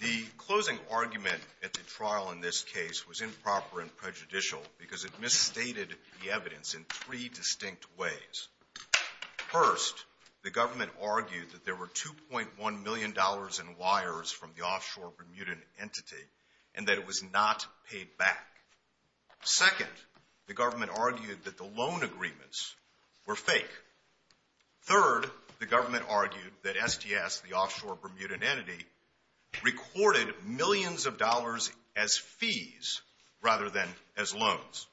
The closing argument at the trial in this case was improper and prejudicial because it misstated the evidence in three distinct ways. First, the government argued that there were $2.1 million in wires from the offshore Bermudan entity and that it was not paid back. Second, the government argued that the loan agreements were fake. Third, the government argued that STS, the offshore Bermudan entity, recorded millions of dollars as fees rather than as loans.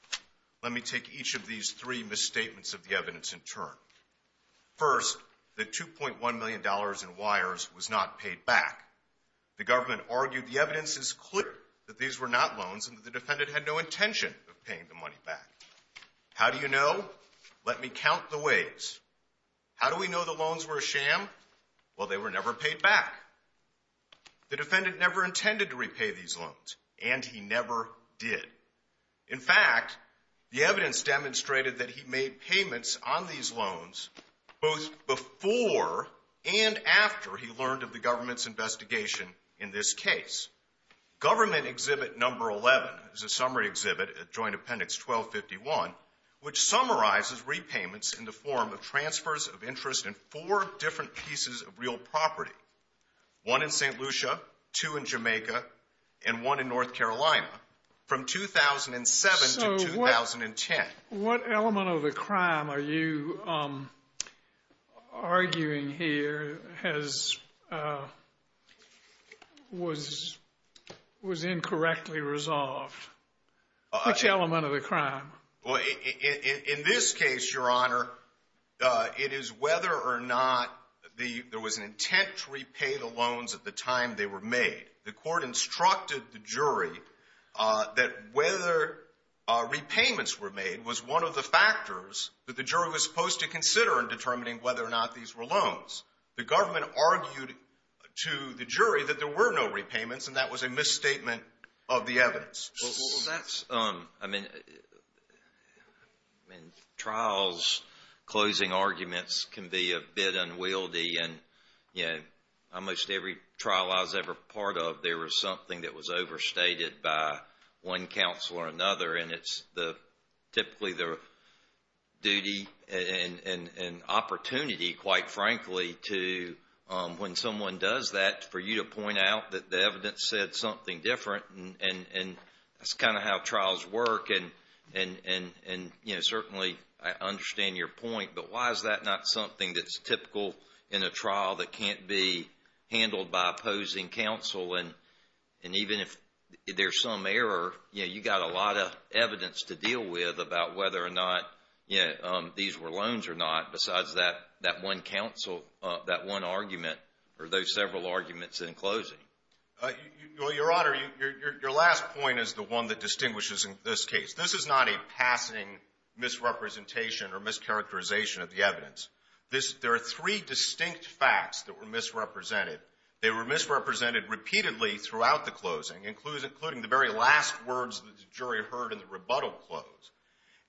Let me take each of these three misstatements of the evidence in turn. First, the $2.1 million in wires was not paid back. The government argued the evidence is clear that these were not loans and that the defendant had no intention of paying the money back. How do you know? Let me count the ways. How do we know the loans were a sham? Well, they were never paid back. The defendant never intended to repay these loans, and he never did. In fact, the evidence demonstrated that he made payments on these loans both before and after he learned of the government's investigation in this case. Government Exhibit No. 11 is a summary exhibit at Joint Appendix 1251, which summarizes repayments in the form of transfers of interest in four different pieces of real property, one in St. Lucia, two in North Carolina, from 2007 to 2010. So what element of the crime are you arguing here was incorrectly resolved? Which element of the crime? Well, in this case, Your Honor, it is whether or not there was an intent to repay the loans at the time they were made. The court instructed the jury that whether repayments were made was one of the factors that the jury was supposed to consider in determining whether or not these were loans. The government argued to the jury that there were no repayments, and that was a misstatement of the evidence. Well, that's, I mean, in trials, closing arguments can be a bit unwieldy, and, you know, almost every trial I was ever part of, there was something that was overstated by one counsel or another, and it's typically the duty and opportunity, quite frankly, to when someone does that, for you to point out that the evidence said something different, and that's kind of how trials work. And, you know, certainly I understand your point, but why is that not something that's typical in a trial that can't be handled by opposing counsel? And even if there's some error, you know, you've got a lot of evidence to deal with about whether or not, you know, these were loans or not, besides that one counsel, that one argument, or those several arguments in closing. Well, Your Honor, your last point is the one that distinguishes in this case. This is not a passing misrepresentation or mischaracterization of the evidence. There are three distinct facts that were misrepresented. They were misrepresented repeatedly throughout the closing, including the very last words that the jury heard in the rebuttal close.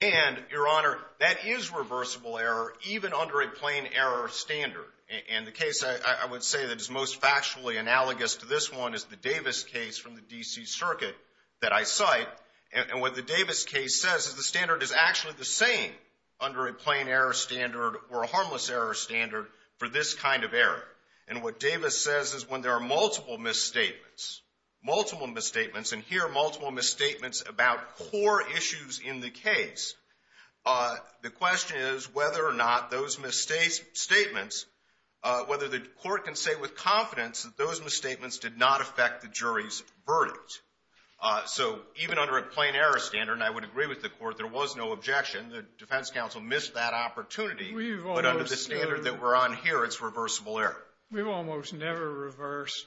And, Your Honor, that is reversible error, even under a plain error standard. And the case I would say that is most factually analogous to this one is the Davis case from the D.C. Circuit that I cite, and what the Davis case says is the standard is actually the same under a plain error standard or a harmless error standard for this kind of error. And what Davis says is when there are multiple misstatements, multiple misstatements, and hear multiple misstatements about core issues in the case, the question is whether or not those misstatements, whether the court can say with confidence that those misstatements did not affect the jury's verdict. So even under a plain error standard, and I would agree with the court, there was no objection. The defense counsel missed that opportunity, but under the standard that we're on here, it's reversible error. We've almost never reversed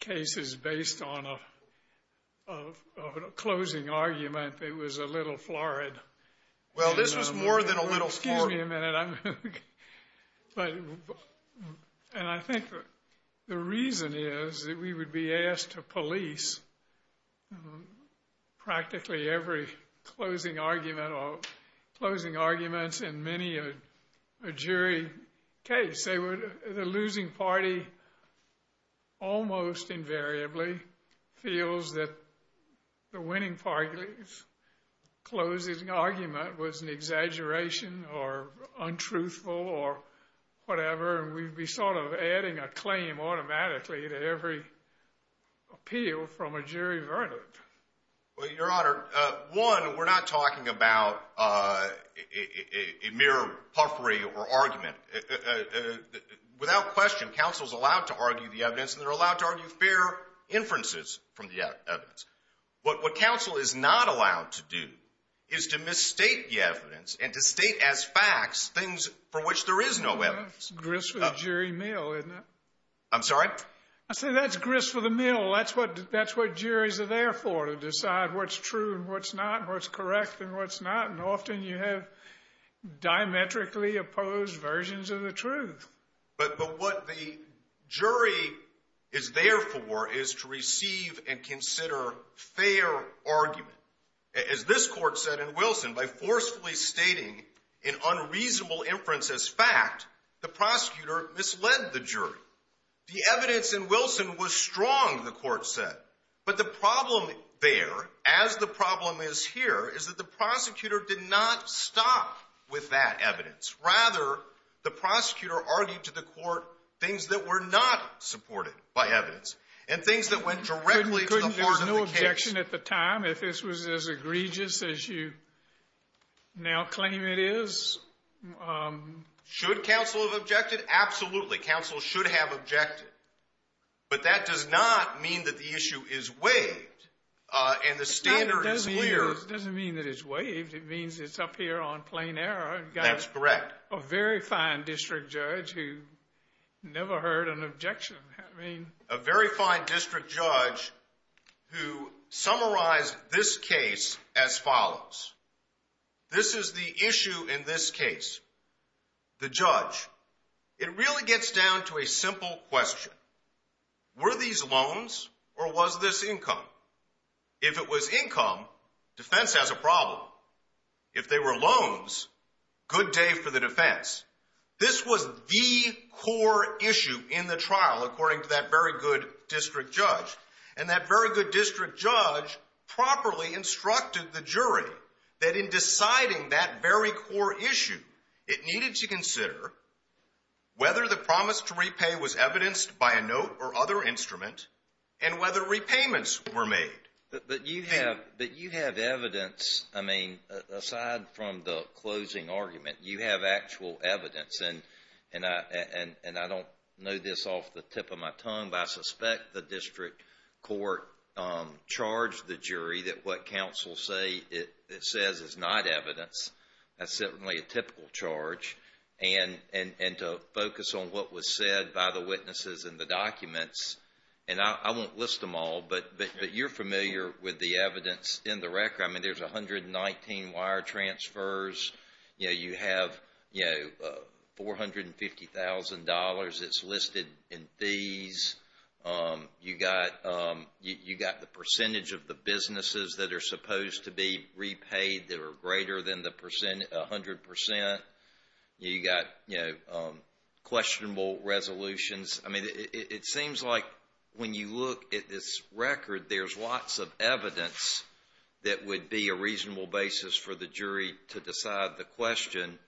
cases based on a closing argument that was a little florid. Well, this was more than a little florid. Excuse me a minute. And I think the reason is that we would be asked to police practically every closing argument or closing arguments in many a jury case. They would, the losing party almost invariably feels that the winning party's closing argument was an exaggeration or untruthful or whatever, and we'd be sort of adding a claim automatically to every appeal from a jury verdict. Well, Your Honor, one, we're not talking about a mere puffery or argument. Without question, counsel's allowed to argue the evidence and they're allowed to argue fair inferences from the evidence. But what counsel is not allowed to do is to misstate the evidence and to state as facts things for which there is no evidence. That's grist for the jury mill, isn't it? I'm sorry? I said that's grist for the mill. That's what juries are there for, to decide what's true and what's not and what's correct and what's not. And often you have diametrically opposed versions of the truth. But what the jury is there for is to receive and consider fair argument. As this court said in Wilson, by forcefully stating an unreasonable inference as fact, the prosecutor misled the jury. The evidence in Wilson was strong, the court said. But the problem there, as the problem is here, is that the prosecutor did not stop with that evidence. Rather, the prosecutor argued to the court things that were not supported by evidence and things that were not supported by evidence and things that were not supported by evidence. And the question at the time, if this was as egregious as you now claim it is? Should counsel have objected? Absolutely, counsel should have objected. But that does not mean that the issue is waived and the standard is clear. It doesn't mean that it's waived. It means it's up here on plain error. That's correct. You've got a very fine district judge who never heard an objection. A very fine district judge who summarized this case as follows. This is the issue in this case. The judge. It really gets down to a simple question. Were these loans or was this income? If it was income, defense has a problem. If they were loans, good day for the defense. This was the core issue in the trial according to that very good district judge. And that very good district judge properly instructed the jury that in deciding that very core issue, it needed to consider whether the promise to repay was evidenced by a note or other instrument and whether repayments were made. But you have evidence, I mean, aside from the closing argument, you have actual evidence. And I don't know this off the tip of my tongue, but I suspect the district court charged the jury that what counsel says is not evidence. That's certainly a typical charge. And to focus on what was said by the witnesses in the documents, and I won't list them all, but you're familiar with the evidence in the record. I mean, there's 119 wire transfers. You have $450,000 that's listed in fees. You got the percentage of the businesses that are supposed to be repaid that are greater than 100%. You got questionable resolutions. I mean, it seems like when you look at this record, there's lots of evidence that would be a reasonable basis for the jury to decide the question.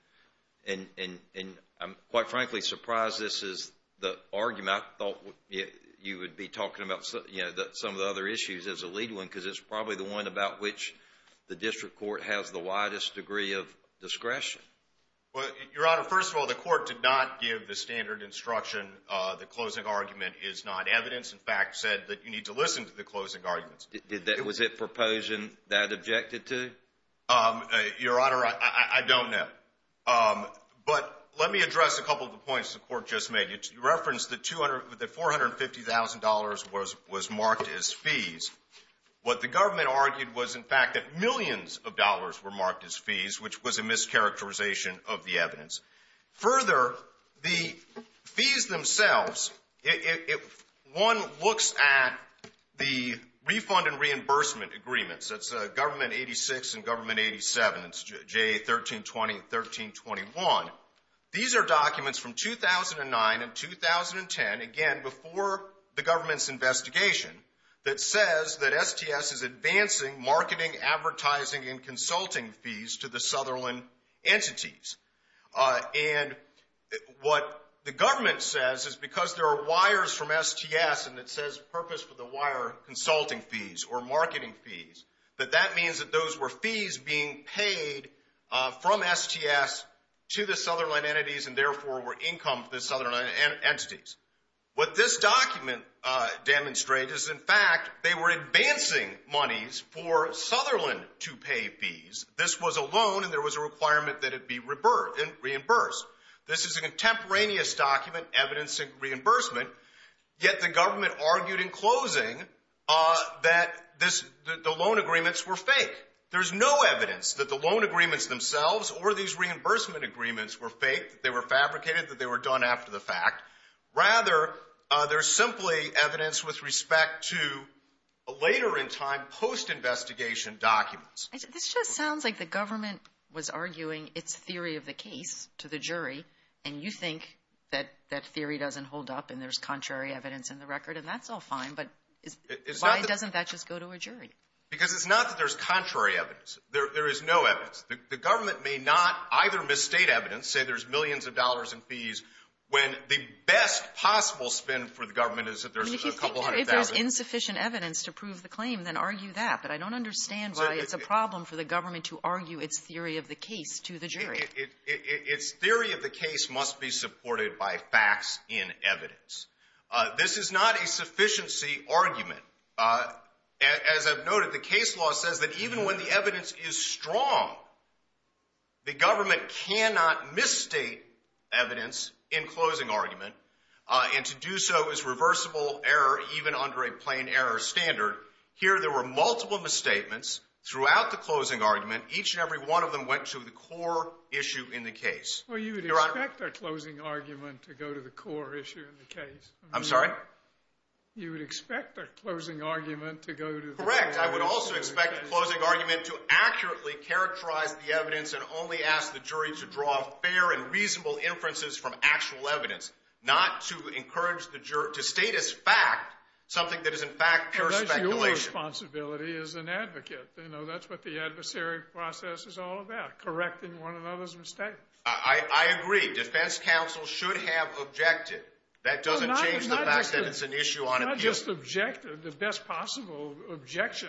And I'm quite frankly surprised this is the argument. I thought you would be talking about some of the other issues as a lead one because it's probably the one about which the district court has the widest degree of discretion. Well, Your Honor, first of all, the court did not give the standard instruction that closing argument is not evidence. In fact, said that you need to listen to the closing arguments. Was it a proposal that objected to? Your Honor, I don't know. But let me address a couple of the points the court just made. It referenced that $450,000 was marked as fees. What the government argued was in fact that millions of dollars were marked as fees, which was a mischaracterization of the evidence. Further, the fees themselves, if one looks at the refund and reimbursement agreements, that's Government 86 and Government 87, it's JA 1320 and 1321. These are documents from 2009 and 2010, again, before the government's investigation, that says that STS is advancing marketing, advertising, and consulting fees to the Sutherland entities. And what the government says is because there are wires from STS and it says purpose for the wire consulting fees or marketing fees, that that means that those were fees being paid from STS to the Sutherland entities and therefore were income to the Sutherland entities. What this document demonstrates is in fact they were advancing monies for Sutherland to pay fees. This was a loan and there was a requirement that it be reimbursed. This is a contemporaneous document, evidence of reimbursement, yet the government argued in closing that the loan agreements were fake. There's no evidence that the loan agreements themselves or these reimbursement agreements were fake, that they were fabricated, that they were done after the fact. Rather, they're simply evidence with respect to a later in time post-investigation documents. This just sounds like the government was arguing its theory of the case to the jury and you think that that theory doesn't hold up and there's contrary evidence in the record and that's all fine, but why doesn't that just go to a jury? Because it's not that there's contrary evidence. There is no evidence. The government may not either misstate evidence, say there's millions of dollars in fees, when the best possible spin for the government is that there's a couple hundred thousand. I mean, if you think there's insufficient evidence to prove the claim, then argue that, but I don't understand why it's a problem for the government to argue its theory of the case to the jury. Its theory of the case must be supported by facts in evidence. This is not a sufficiency argument. As I've noted, the case law says that even when the evidence is strong, the government cannot misstate evidence in closing argument and to do so is reversible error even under a plain error standard. Here there were multiple misstatements throughout the closing argument. Each and every one of them went to the core issue in the case. Well, you would expect a closing argument to go to the core issue in the case. I'm sorry? You would expect a closing argument to go to the core issue in the case. Correct. I would also expect a closing argument to accurately characterize the evidence and only ask the jury to draw a fair and reasonable inferences from actual evidence, not to encourage the jury to state as fact something that is in fact pure speculation. And that's your responsibility as an advocate. You know, that's what the adversary process is all about, correcting one another's mistakes. I agree. Defense counsel should have objected. That doesn't change the fact that it's an issue on appeal. Not just objected. The best possible objection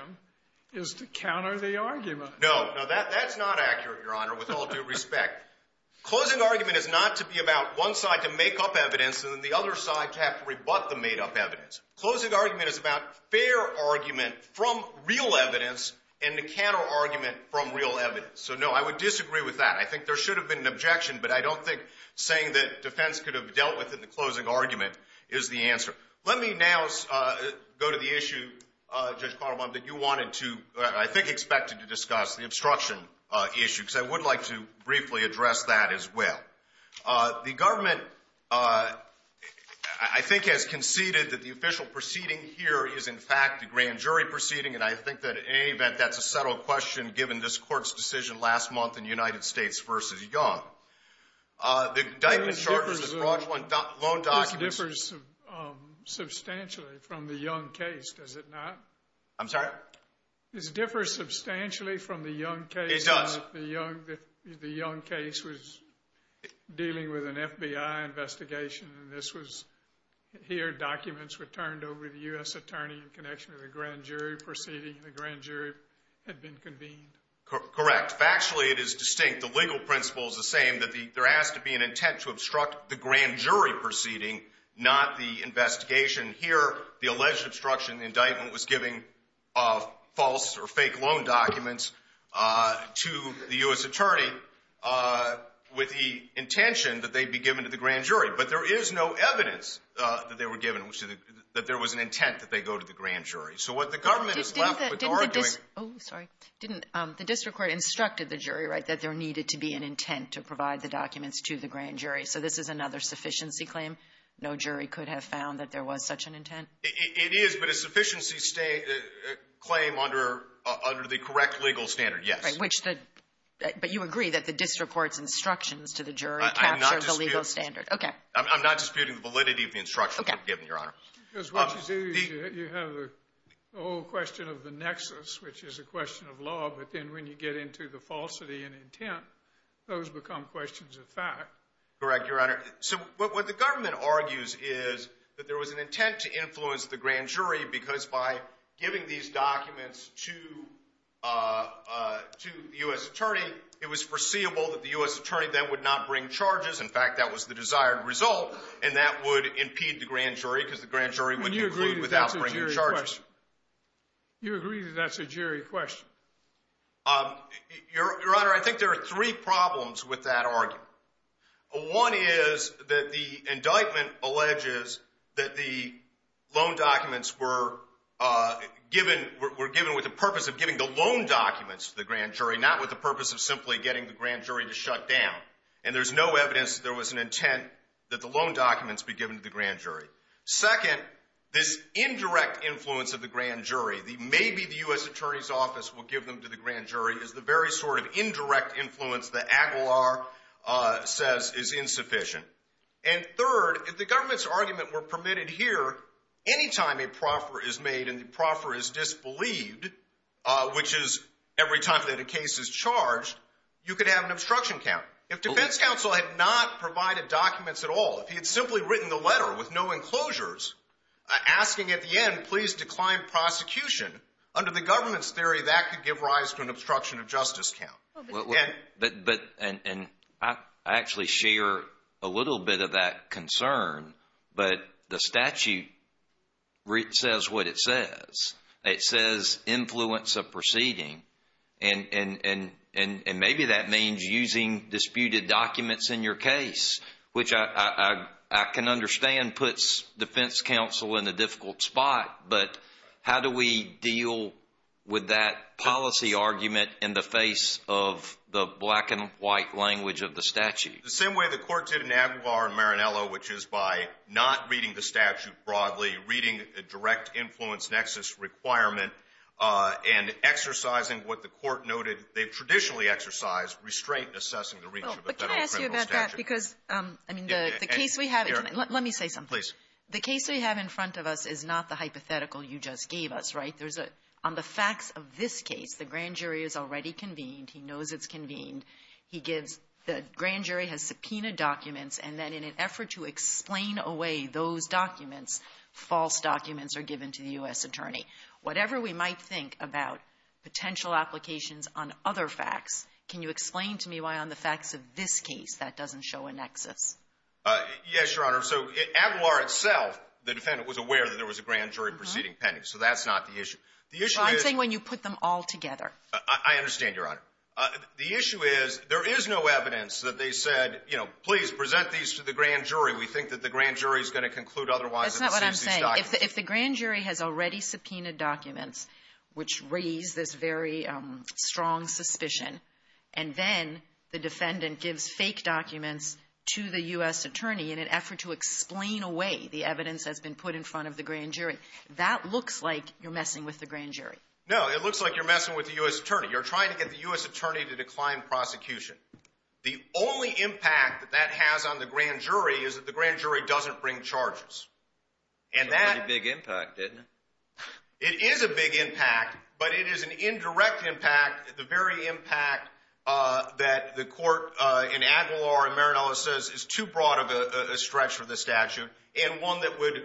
is to counter the argument. No. No, that's not accurate, Your Honor, with all due respect. Closing argument is not to be about one side to make up evidence and then the other side to have to rebut the made-up evidence. Closing argument is about fair argument from real evidence and the counter-argument from real evidence. So no, I would disagree with that. I think there should have been an objection, but I don't think saying that defense could have dealt with it in the closing argument is the answer. Let me now go to the issue, Judge Carlbaum, that you wanted to, I think expected to discuss, the obstruction issue, because I would like to briefly address that as well. The government, I think, has conceded that the official proceeding here is in fact the grand jury proceeding, and I think that in any event that's a settled question given this Court's decision last month in United States v. Young. This differs substantially from the Young case, does it not? I'm sorry? This differs substantially from the Young case. It does. The Young case was dealing with an FBI investigation, and this was, here documents were turned over to the U.S. Attorney in connection with the grand jury proceeding. The grand jury had been convened. Correct. Factually, it is distinct. The legal principle is the same, that there has to be an intent to obstruct the grand jury proceeding, not the investigation. Here, the alleged obstruction indictment was giving false or fake loan documents to the U.S. Attorney with the intention that they be given to the grand jury, but there is no evidence that they were given, that there was an intent that they go to the grand jury. So what the government is left with Oh, sorry. Didn't the district court instructed the jury, right, that there needed to be an intent to provide the documents to the grand jury. So this is another sufficiency claim? No jury could have found that there was such an intent? It is, but a sufficiency claim under the correct legal standard, yes. Right. Which the – but you agree that the district court's instructions to the jury capture the legal standard. I'm not disputing the validity of the instructions they've given, Your Honor. Because what you do is you have the whole question of the nexus, which is a question of law, but then when you get into the falsity and intent, those become questions of fact. Correct, Your Honor. So what the government argues is that there was an intent to influence the grand jury because by giving these documents to the U.S. Attorney, it was foreseeable that the U.S. Attorney then would not bring charges. In fact, that was the desired result, and that would impede the grand jury because the grand jury would conclude without bringing charges. You agree that that's a jury question? Your Honor, I think there are three problems with that argument. One is that the indictment alleges that the loan documents were given with the purpose of giving the loan documents to the grand jury, not with the purpose of simply getting the grand jury to shut down. And there's no evidence that there was an intent that the loan documents be given to the grand jury. Second, this indirect influence of the grand jury, maybe the U.S. Attorney's office will give them to the grand jury, is the very sort of indirect influence that Aguilar says is insufficient. And third, if the government's argument were permitted here, any time a proffer is made and the proffer is disbelieved, which is every time that a case is charged, you could have an obstruction count. If defense counsel had not provided documents at all, if he had simply written the letter with no enclosures asking at the end, please decline prosecution, under the government's theory, that could give rise to an obstruction of justice count. I actually share a little bit of that concern, but the statute says what it says. It says influence of proceeding, and maybe that means using disputed documents in your case, which I can understand puts defense counsel in a difficult spot, but how do we deal with that policy argument in the face of the black and white language of the statute? The same way the Court did in Aguilar and Marinello, which is by not reading the statute broadly, reading a direct influence nexus requirement, and exercising what the Court noted they've traditionally exercised, restraint in assessing the reach of a federal criminal statute. But can I ask you about that? Because, I mean, the case we have in front of us is not the hypothetical you just gave us, right? There's a — on the facts of this case, the grand jury is already convened. He knows it's convened. He gives — the grand jury has subpoenaed documents, and then in an effort to explain away those documents, false documents are given to the U.S. attorney. Whatever we might think about potential applications on other facts, can you explain to me why on the facts of this case that doesn't show a nexus? Yes, Your Honor. So Aguilar itself, the defendant, was aware that there was a grand jury proceeding pending. So that's not the issue. The issue is — Well, I'm saying when you put them all together. I understand, Your Honor. The issue is there is no evidence that they said, you know, please present these to the grand jury. We think that the grand jury is going to conclude otherwise if it sees these documents. That's not what I'm saying. If the grand jury has already subpoenaed documents, which raise this very strong suspicion, and then the defendant gives fake documents to the U.S. attorney in an effort to explain away the evidence that's been put in front of the grand jury, that looks like you're messing with the grand jury. No. It looks like you're messing with the U.S. attorney. You're trying to get the U.S. attorney to decline prosecution. The only impact that that has on the grand jury is that the grand jury doesn't bring charges. And that — It's a pretty big impact, isn't it? It is a big impact, but it is an indirect impact, the very impact that the court in Maranello says is too broad of a stretch for the statute, and one that would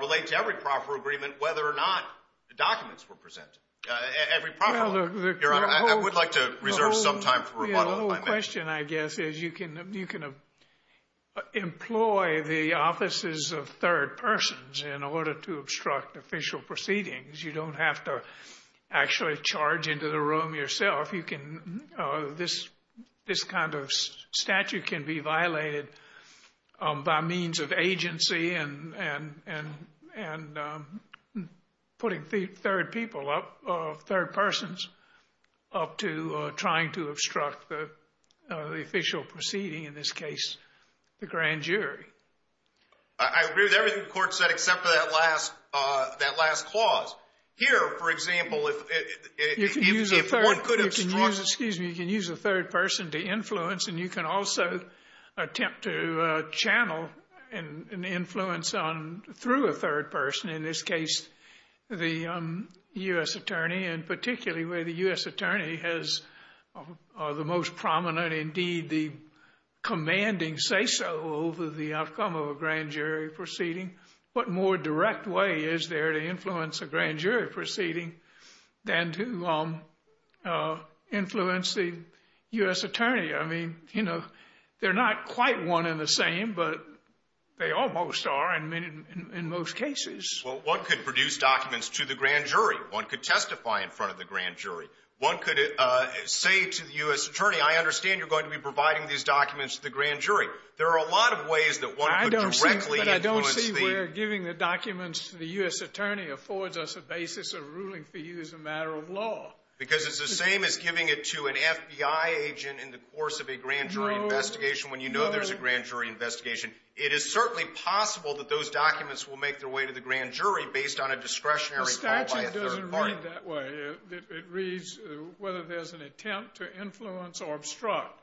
relate to every proper agreement whether or not the documents were presented. Every proper one. Your Honor, I would like to reserve some time for rebuttal if I may. The whole question, I guess, is you can employ the offices of third persons in order to obstruct official proceedings. You don't have to actually charge into the room yourself. You can — this kind of statute can be violated by means of agency and putting third people up — third persons up to trying to obstruct the official proceeding, in this case, the grand jury. I agree with everything the court said except for that last clause. Here, for example, if — Excuse me. You can use a third person to influence, and you can also attempt to channel an influence through a third person, in this case, the U.S. attorney, and particularly where the U.S. attorney has the most prominent, indeed, the commanding say-so over the outcome of a grand jury proceeding. What more direct way is there to influence a grand jury proceeding than to influence the U.S. attorney? I mean, you know, they're not quite one and the same, but they almost are in most cases. Well, one could produce documents to the grand jury. One could testify in front of the grand jury. One could say to the U.S. attorney, I understand you're going to be providing these documents to the grand jury. There are a lot of ways that one could directly influence the — I don't see where giving the documents to the U.S. attorney affords us a basis of ruling for you as a matter of law. Because it's the same as giving it to an FBI agent in the course of a grand jury investigation when you know there's a grand jury investigation. It is certainly possible that those documents will make their way to the grand jury based on a discretionary call by a third party. The statute doesn't read it that way. It reads whether there's an attempt to influence or obstruct.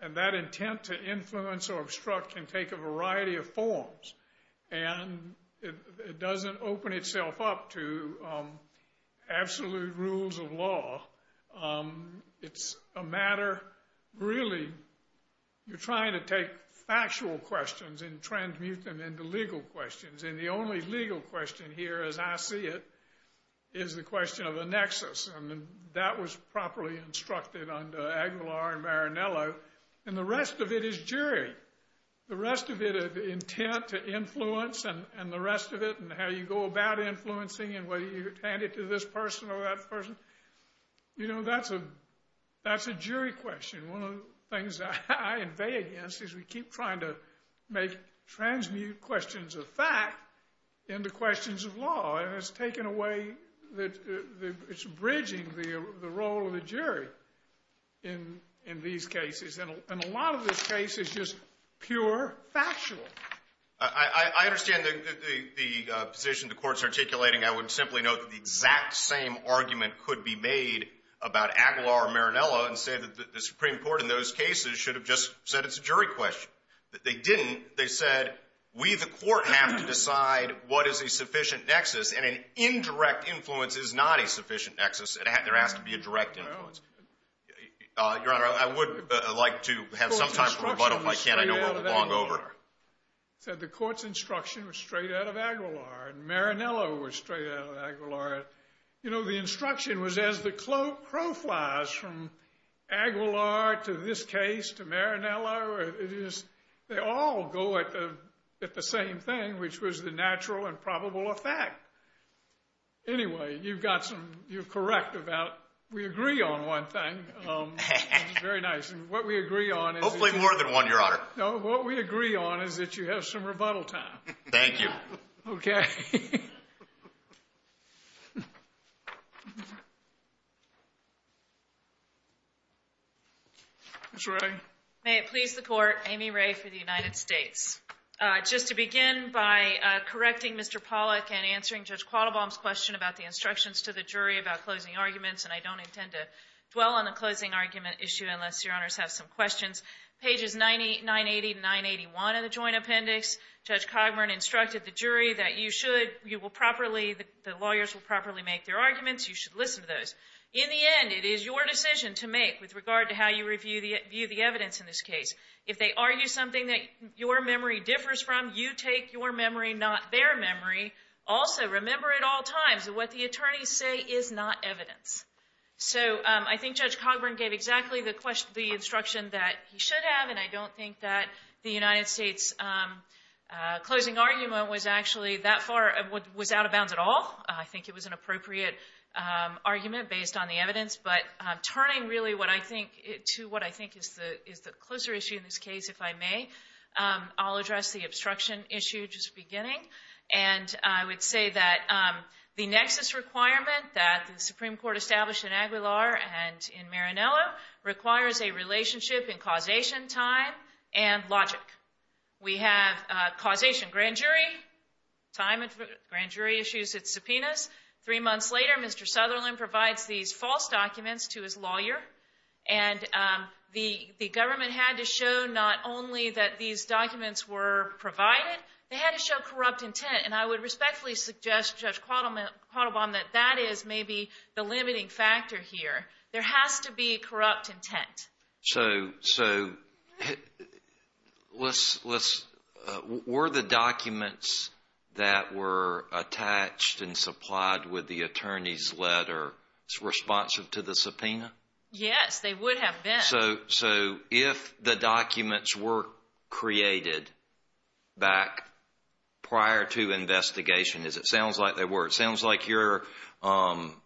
And that intent to influence or obstruct can take a variety of forms. And it doesn't open itself up to absolute rules of law. It's a matter, really, you're trying to take factual questions and transmute them into legal questions. And the only legal question here, as I see it, is the question of a nexus. And that was properly instructed under Aguilar and Marinello. And the rest of it is jury. The rest of it, the intent to influence and the rest of it and how you go about influencing and whether you hand it to this person or that person, you know, that's a jury question. One of the things I invade against is we keep trying to make — transmute questions of fact into questions of law. And it's taken away — it's bridging the role of the jury in these cases. And a lot of this case is just pure factual. I understand the position the Court's articulating. I would simply note that the exact same argument could be made about Aguilar or Marinello and say that the Supreme Court in those cases should have just said it's a jury question. They didn't. They said we, the Court, have to decide what is a sufficient nexus. And an indirect influence is not a sufficient nexus. There has to be a direct influence. Your Honor, I would like to have some time for rebuttal if I can. I know we're long over. The Court's instruction was straight out of Aguilar. And Marinello was straight out of Aguilar. You know, the instruction was as the crow flies from Aguilar to this case to Marinello. They all go at the same thing, which was the natural and probable effect. Anyway, you've got some — you're correct about — we agree on one thing. Very nice. And what we agree on is — Hopefully more than one, Your Honor. No, what we agree on is that you have some rebuttal time. Thank you. Okay. Ms. Wray. May it please the Court, Amy Wray for the United States. Just to begin by correcting Mr. Pollack and answering Judge Quattlebaum's question about the instructions to the jury about closing arguments, and I don't intend to dwell on the closing argument issue unless Your Honors have some questions, pages 980 to 981 of the Joint Appendix. Judge Cogburn instructed the jury that you should — you will properly — the lawyers will properly make their arguments. You should listen to those. In the end, it is your decision to make with regard to how you view the evidence in this case. If they argue something that your memory differs from, you take your memory, not their memory. Also, remember at all times that what the attorneys say is not evidence. So I think Judge Cogburn gave exactly the instruction that he should have, and I don't think that the United States closing argument was actually that far — was out of bounds at all. I think it was an appropriate argument based on the evidence. But turning really what I think to what I think is the closer issue in this case, if I may, I'll address the obstruction issue just beginning. And I would say that the nexus requirement that the Supreme Court established in Aguilar and in Marinello requires a relationship in causation, time, and logic. We have causation grand jury, time and — grand jury issues its subpoenas. Three months later, Mr. Sutherland provides these false documents to his lawyer, and the government had to show not only that these documents were provided, they had to show corrupt intent. And I would respectfully suggest, Judge Cogburn, that that is maybe the limiting factor here. There has to be corrupt intent. So were the documents that were attached and supplied with the attorney's letter responsive to the subpoena? Yes, they would have been. So if the documents were created back prior to investigation, as it sounds like they were, it sounds like your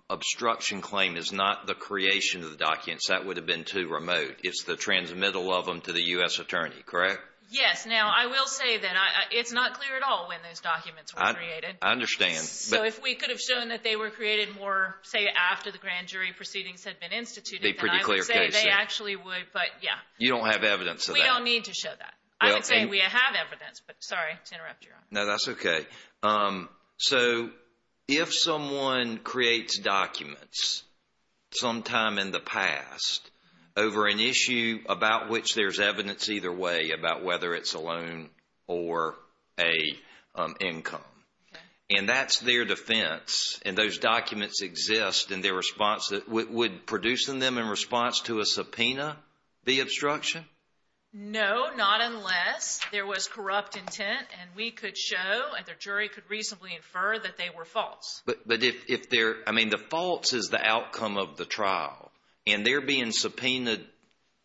obstruction claim is not the creation of the documents. That would have been too remote. It's the transmittal of them to the U.S. attorney, correct? Yes. Now, I will say that it's not clear at all when those documents were created. I understand. So if we could have shown that they were created more, say, after the grand jury proceedings had been instituted, then I would say they actually would, but yeah. You don't have evidence of that? We don't need to show that. I would say we have evidence, but sorry to interrupt, Your Honor. No, that's okay. So if someone creates documents sometime in the past over an issue about which there's evidence either way about whether it's a loan or an income, and that's their defense, and those documents exist in their response, would producing them in response to a subpoena be obstruction? No, not unless there was corrupt intent and we could show and the jury could reasonably infer that they were false. But if they're – I mean the false is the outcome of the trial, and they're being subpoenaed,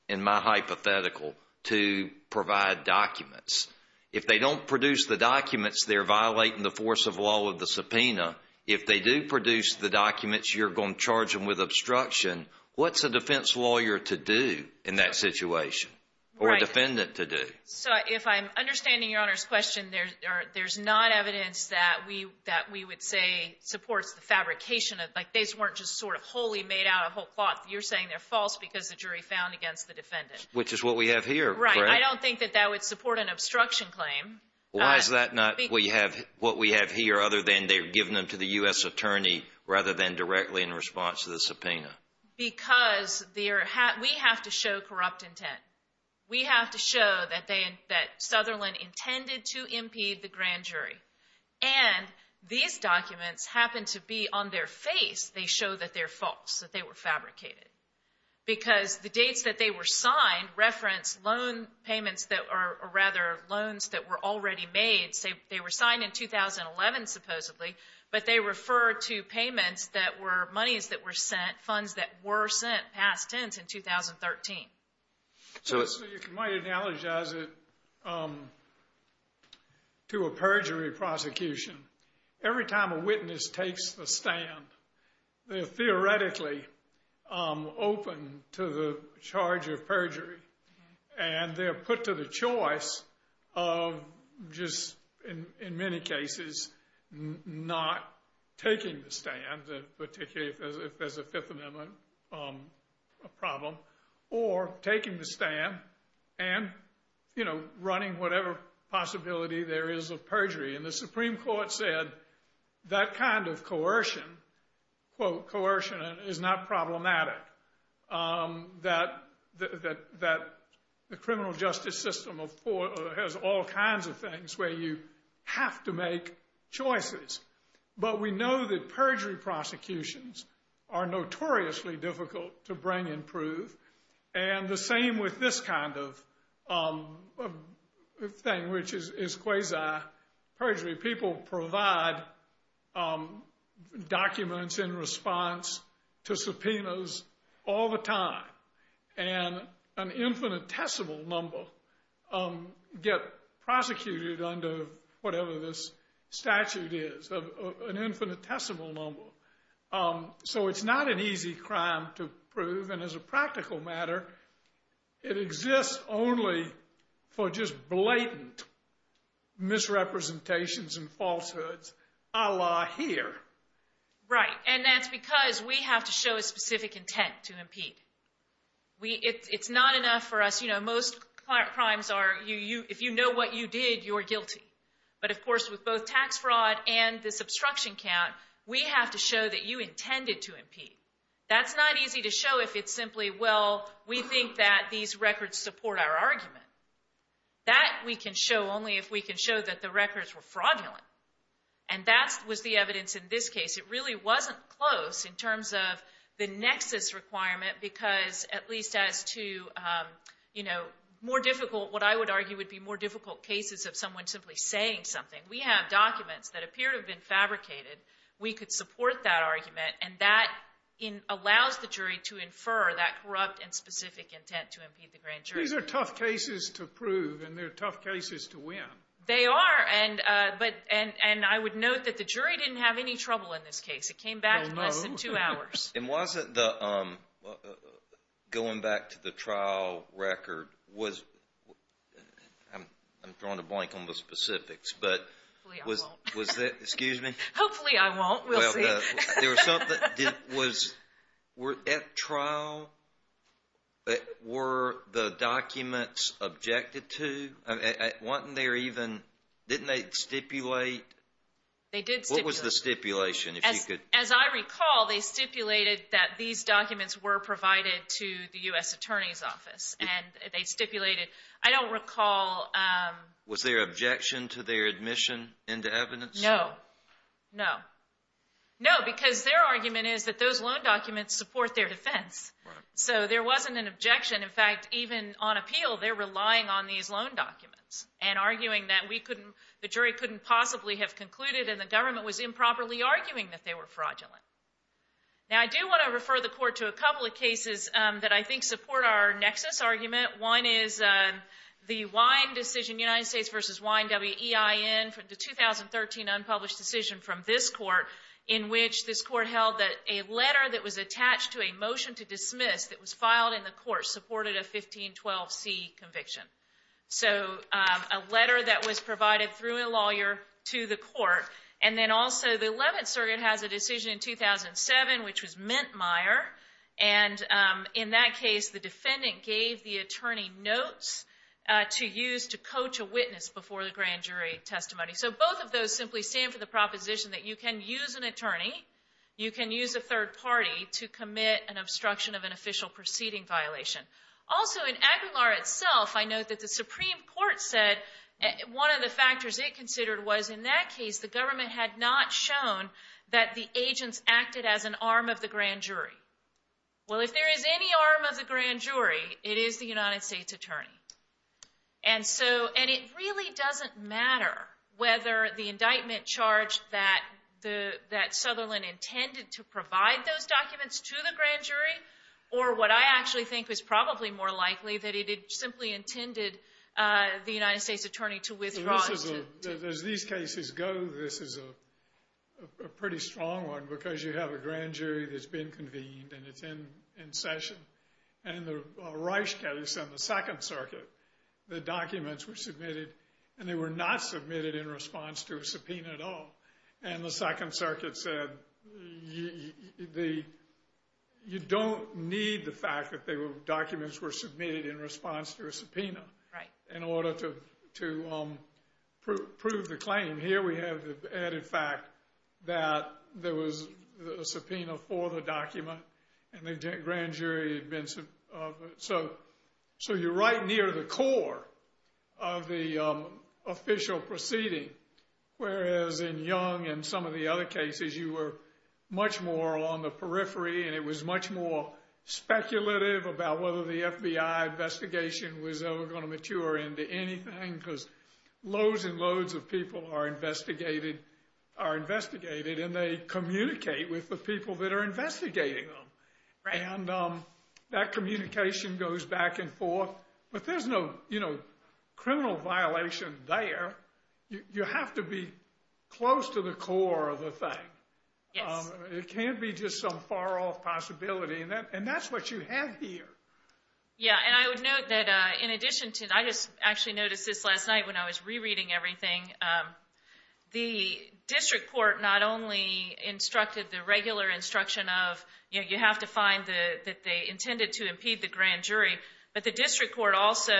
in my hypothetical, to provide documents. If they don't produce the documents, they're violating the force of law of the subpoena. If they do produce the documents, you're going to charge them with obstruction. What's a defense lawyer to do in that situation or a defendant to do? So if I'm understanding Your Honor's question, there's not evidence that we would say supports the fabrication of – like these weren't just sort of wholly made out of whole cloth. You're saying they're false because the jury found against the defendant. Which is what we have here. Right. I don't think that that would support an obstruction claim. Why is that not what we have here other than they're giving them to the U.S. attorney rather than directly in response to the subpoena? Because we have to show corrupt intent. We have to show that Sutherland intended to impede the grand jury. And these documents happen to be on their face. They show that they're false, that they were fabricated. Because the dates that they were signed reference loan payments that are – or rather loans that were already made. They were signed in 2011 supposedly, but they refer to payments that were – monies that were sent, funds that were sent past tense in 2013. So you might analogize it to a perjury prosecution. Every time a witness takes the stand, they're theoretically open to the charge of perjury. And they're put to the choice of just, in many cases, not taking the stand. Particularly if there's a Fifth Amendment problem. Or taking the stand and running whatever possibility there is of perjury. And the Supreme Court said that kind of coercion, quote, coercion, is not problematic. That the criminal justice system has all kinds of things where you have to make choices. But we know that perjury prosecutions are notoriously difficult to bring and prove. And the same with this kind of thing, which is quasi-perjury. People provide documents in response to subpoenas all the time. And an infinitesimal number get prosecuted under whatever this statute is. An infinitesimal number. So it's not an easy crime to prove. And as a practical matter, it exists only for just blatant misrepresentations and falsehoods, a la here. Right. And that's because we have to show a specific intent to impede. It's not enough for us, you know, most crimes are if you know what you did, you're guilty. But, of course, with both tax fraud and this obstruction count, we have to show that you intended to impede. That's not easy to show if it's simply, well, we think that these records support our argument. That we can show only if we can show that the records were fraudulent. And that was the evidence in this case. It really wasn't close in terms of the nexus requirement because at least as to, you know, more difficult, what I would argue would be more difficult cases of someone simply saying something. We have documents that appear to have been fabricated. We could support that argument. And that allows the jury to infer that corrupt and specific intent to impede the grand jury. These are tough cases to prove. And they're tough cases to win. They are. And I would note that the jury didn't have any trouble in this case. It came back in less than two hours. And wasn't the, going back to the trial record, was, I'm throwing a blank on the specifics, but. Hopefully I won't. Was that, excuse me? Hopefully I won't. We'll see. There was something, was, at trial, were the documents objected to? Wasn't there even, didn't they stipulate? They did stipulate. What was the stipulation? As I recall, they stipulated that these documents were provided to the U.S. Attorney's Office. And they stipulated, I don't recall. Was there objection to their admission into evidence? No. No. No, because their argument is that those loan documents support their defense. So there wasn't an objection. In fact, even on appeal, they're relying on these loan documents and arguing that we couldn't, the jury couldn't possibly have concluded, and the government was improperly arguing that they were fraudulent. Now, I do want to refer the court to a couple of cases that I think support our nexus argument. One is the Wine decision, United States v. Wine, W-E-I-N, the 2013 unpublished decision from this court, in which this court held that a letter that was attached to a motion to dismiss that was filed in the court supported a 1512C conviction. So a letter that was provided through a lawyer to the court. And then also the 11th circuit has a decision in 2007, which was Mintmeier. And in that case, the defendant gave the attorney notes to use to coach a witness before the grand jury testimony. So both of those simply stand for the proposition that you can use an attorney, you can use a third party to commit an obstruction of an official proceeding violation. Also, in Aguilar itself, I note that the Supreme Court said one of the factors it considered was in that case, the government had not shown that the agents acted as an arm of the grand jury. Well, if there is any arm of the grand jury, it is the United States attorney. And so, and it really doesn't matter whether the indictment charged that Sutherland intended to provide those documents to the grand jury or what I actually think is probably more likely, that it simply intended the United States attorney to withdraw. As these cases go, this is a pretty strong one because you have a grand jury that's been convened and it's in session. And in the Reich case and the Second Circuit, the documents were submitted and they were not submitted in response to a subpoena at all. And the Second Circuit said you don't need the fact that documents were submitted in response to a subpoena in order to prove the claim. Here we have the added fact that there was a subpoena for the document and the grand jury had been, so you're right near the core of the official proceeding. Whereas in Young and some of the other cases, you were much more on the periphery and it was much more speculative about whether the FBI investigation was ever going to mature into anything because loads and loads of people are investigated and they communicate with the people that are investigating them. And that communication goes back and forth, but there's no criminal violation there. You have to be close to the core of the thing. Yes. It can't be just some far-off possibility, and that's what you have here. Yeah, and I would note that in addition to that, I just actually noticed this last night when I was rereading everything. The district court not only instructed the regular instruction of you have to find that they intended to impede the grand jury, but the district court also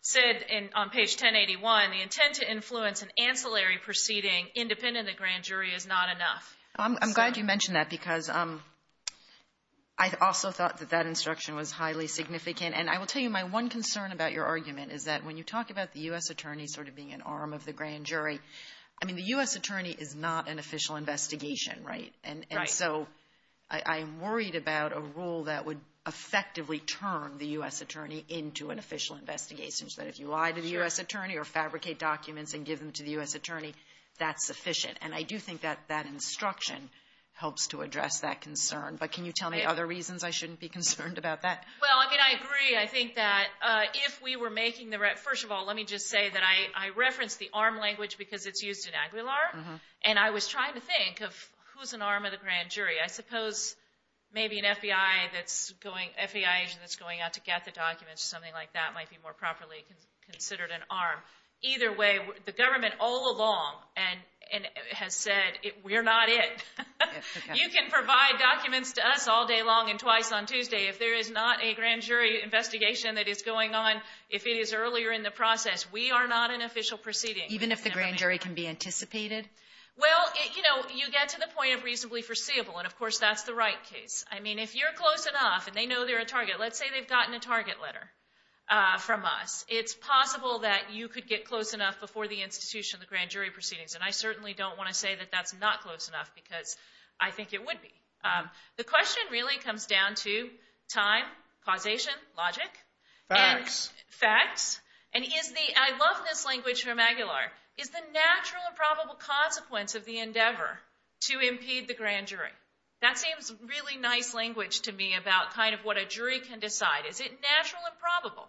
said on page 1081, the intent to influence an ancillary proceeding independent of the grand jury is not enough. I'm glad you mentioned that because I also thought that that instruction was highly significant, and I will tell you my one concern about your argument is that when you talk about the U.S. attorney sort of being an arm of the grand jury, I mean, the U.S. attorney is not an official investigation, right? Right. So I'm worried about a rule that would effectively turn the U.S. attorney into an official investigation, so that if you lie to the U.S. attorney or fabricate documents and give them to the U.S. attorney, that's sufficient. And I do think that that instruction helps to address that concern. But can you tell me other reasons I shouldn't be concerned about that? Well, I mean, I agree. I think that if we were making the – first of all, let me just say that I referenced the arm language because it's used in Aguilar, and I was trying to think of who's an arm of the grand jury. I suppose maybe an FBI agent that's going out to get the documents or something like that might be more properly considered an arm. Either way, the government all along has said we're not it. You can provide documents to us all day long and twice on Tuesday. If there is not a grand jury investigation that is going on, if it is earlier in the process, we are not an official proceeding. Even if the grand jury can be anticipated? Well, you know, you get to the point of reasonably foreseeable, and, of course, that's the right case. I mean, if you're close enough and they know they're a target, let's say they've gotten a target letter from us, it's possible that you could get close enough before the institution of the grand jury proceedings. And I certainly don't want to say that that's not close enough because I think it would be. The question really comes down to time, causation, logic. Facts. Facts. And I love this language from Aguilar, is the natural and probable consequence of the endeavor to impede the grand jury. That seems really nice language to me about kind of what a jury can decide. Is it natural and probable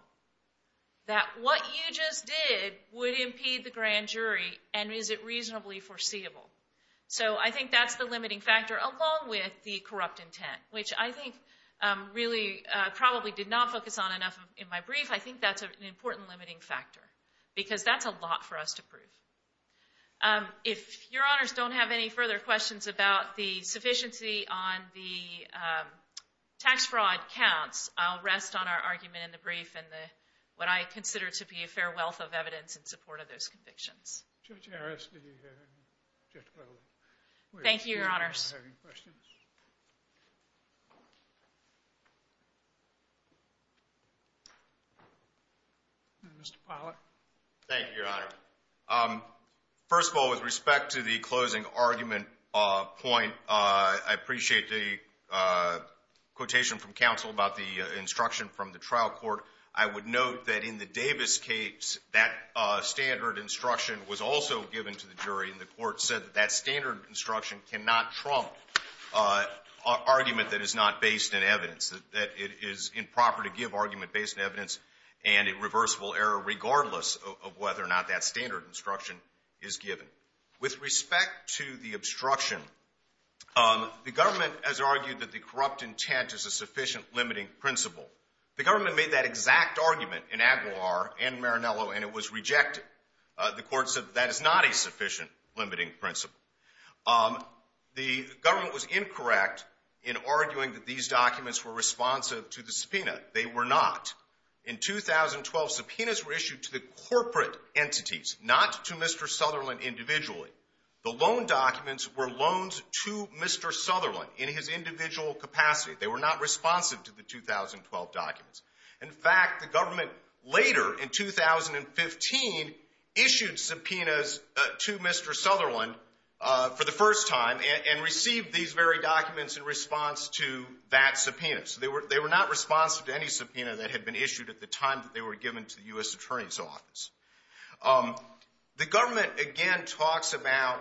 that what you just did would impede the grand jury, and is it reasonably foreseeable? So I think that's the limiting factor along with the corrupt intent, which I think really probably did not focus on enough in my brief. I think that's an important limiting factor because that's a lot for us to prove. If Your Honors don't have any further questions about the sufficiency on the tax fraud counts, I'll rest on our argument in the brief and what I consider to be a fair wealth of evidence in support of those convictions. Judge Harris, did you have any? Thank you, Your Honors. Do you have any questions? Mr. Pollack. Thank you, Your Honor. First of all, with respect to the closing argument point, I appreciate the quotation from counsel about the instruction from the trial court. I would note that in the Davis case, that standard instruction was also given to the jury, and the court said that that standard instruction cannot trump argument that is not based in evidence, that it is improper to give argument based in evidence and a reversible error regardless of whether or not that standard instruction is given. With respect to the obstruction, the government has argued that the corrupt intent is a sufficient limiting principle. The government made that exact argument in Aguilar and Marinello, and it was rejected. The court said that that is not a sufficient limiting principle. The government was incorrect in arguing that these documents were responsive to the subpoena. They were not. In 2012, subpoenas were issued to the corporate entities, not to Mr. Sutherland individually. The loan documents were loaned to Mr. Sutherland in his individual capacity. They were not responsive to the 2012 documents. In fact, the government later in 2015 issued subpoenas to Mr. Sutherland for the first time and received these very documents in response to that subpoena. So they were not responsive to any subpoena that had been issued at the time that they were given to the U.S. Attorney's Office. The government again talks about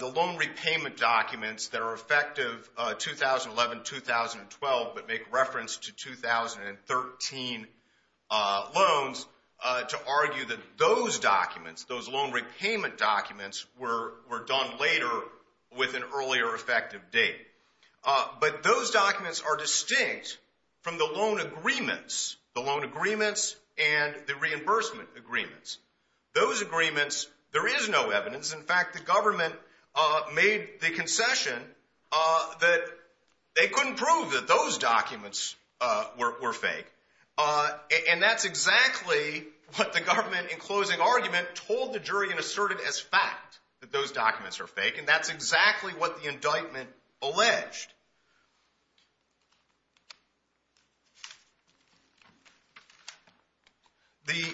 the loan repayment documents that are effective 2011-2012, but make reference to 2013 loans to argue that those documents, those loan repayment documents, were done later with an earlier effective date. But those documents are distinct from the loan agreements, the loan agreements and the reimbursement agreements. Those agreements, there is no evidence. In fact, the government made the concession that they couldn't prove that those documents were fake, and that's exactly what the government, in closing argument, told the jury and asserted as fact that those documents are fake, and that's exactly what the indictment alleged. The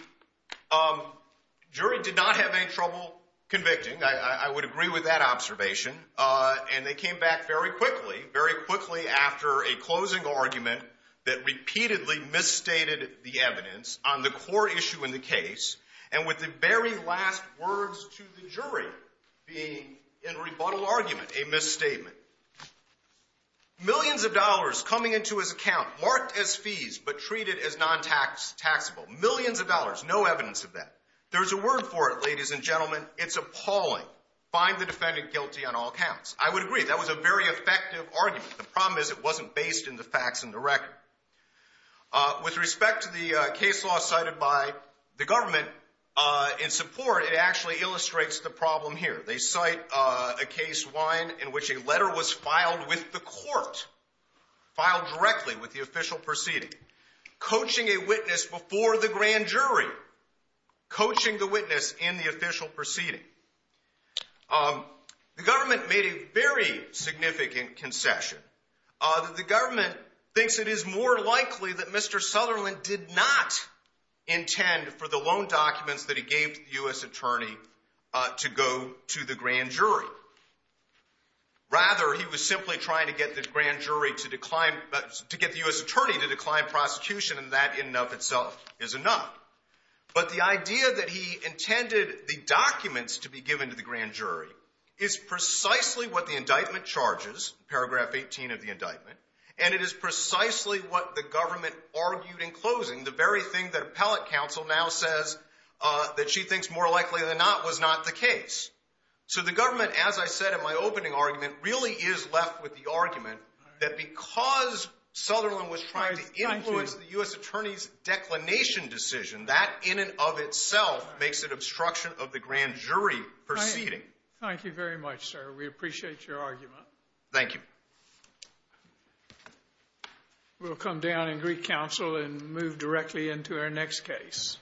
jury did not have any trouble convicting. I would agree with that observation, and they came back very quickly, very quickly after a closing argument that repeatedly misstated the evidence on the core issue in the case, and with the very last words to the jury being, in rebuttal argument, a misstatement. Millions of dollars coming into his account marked as fees but treated as non-taxable. Millions of dollars, no evidence of that. There's a word for it, ladies and gentlemen. It's appalling. Find the defendant guilty on all counts. I would agree. That was a very effective argument. The problem is it wasn't based in the facts and the record. With respect to the case law cited by the government in support, it actually illustrates the problem here. They cite a case, Wine, in which a letter was filed with the court, filed directly with the official proceeding, coaching a witness before the grand jury, coaching the witness in the official proceeding. The government made a very significant concession. The government thinks it is more likely that Mr. Sutherland did not intend for the loan documents that he gave to the U.S. attorney to go to the grand jury. Rather, he was simply trying to get the grand jury to decline, to get the U.S. attorney to decline prosecution, and that in and of itself is enough. But the idea that he intended the documents to be given to the grand jury is precisely what the indictment charges, paragraph 18 of the indictment, and it is precisely what the government argued in closing, the very thing that appellate counsel now says that she thinks more likely than not was not the case. So the government, as I said in my opening argument, really is left with the argument that because Sutherland was trying to influence the U.S. attorney's declination decision, that in and of itself makes it obstruction of the grand jury proceeding. Thank you very much, sir. We appreciate your argument. Thank you. We'll come down in Greek counsel and move directly into our next case.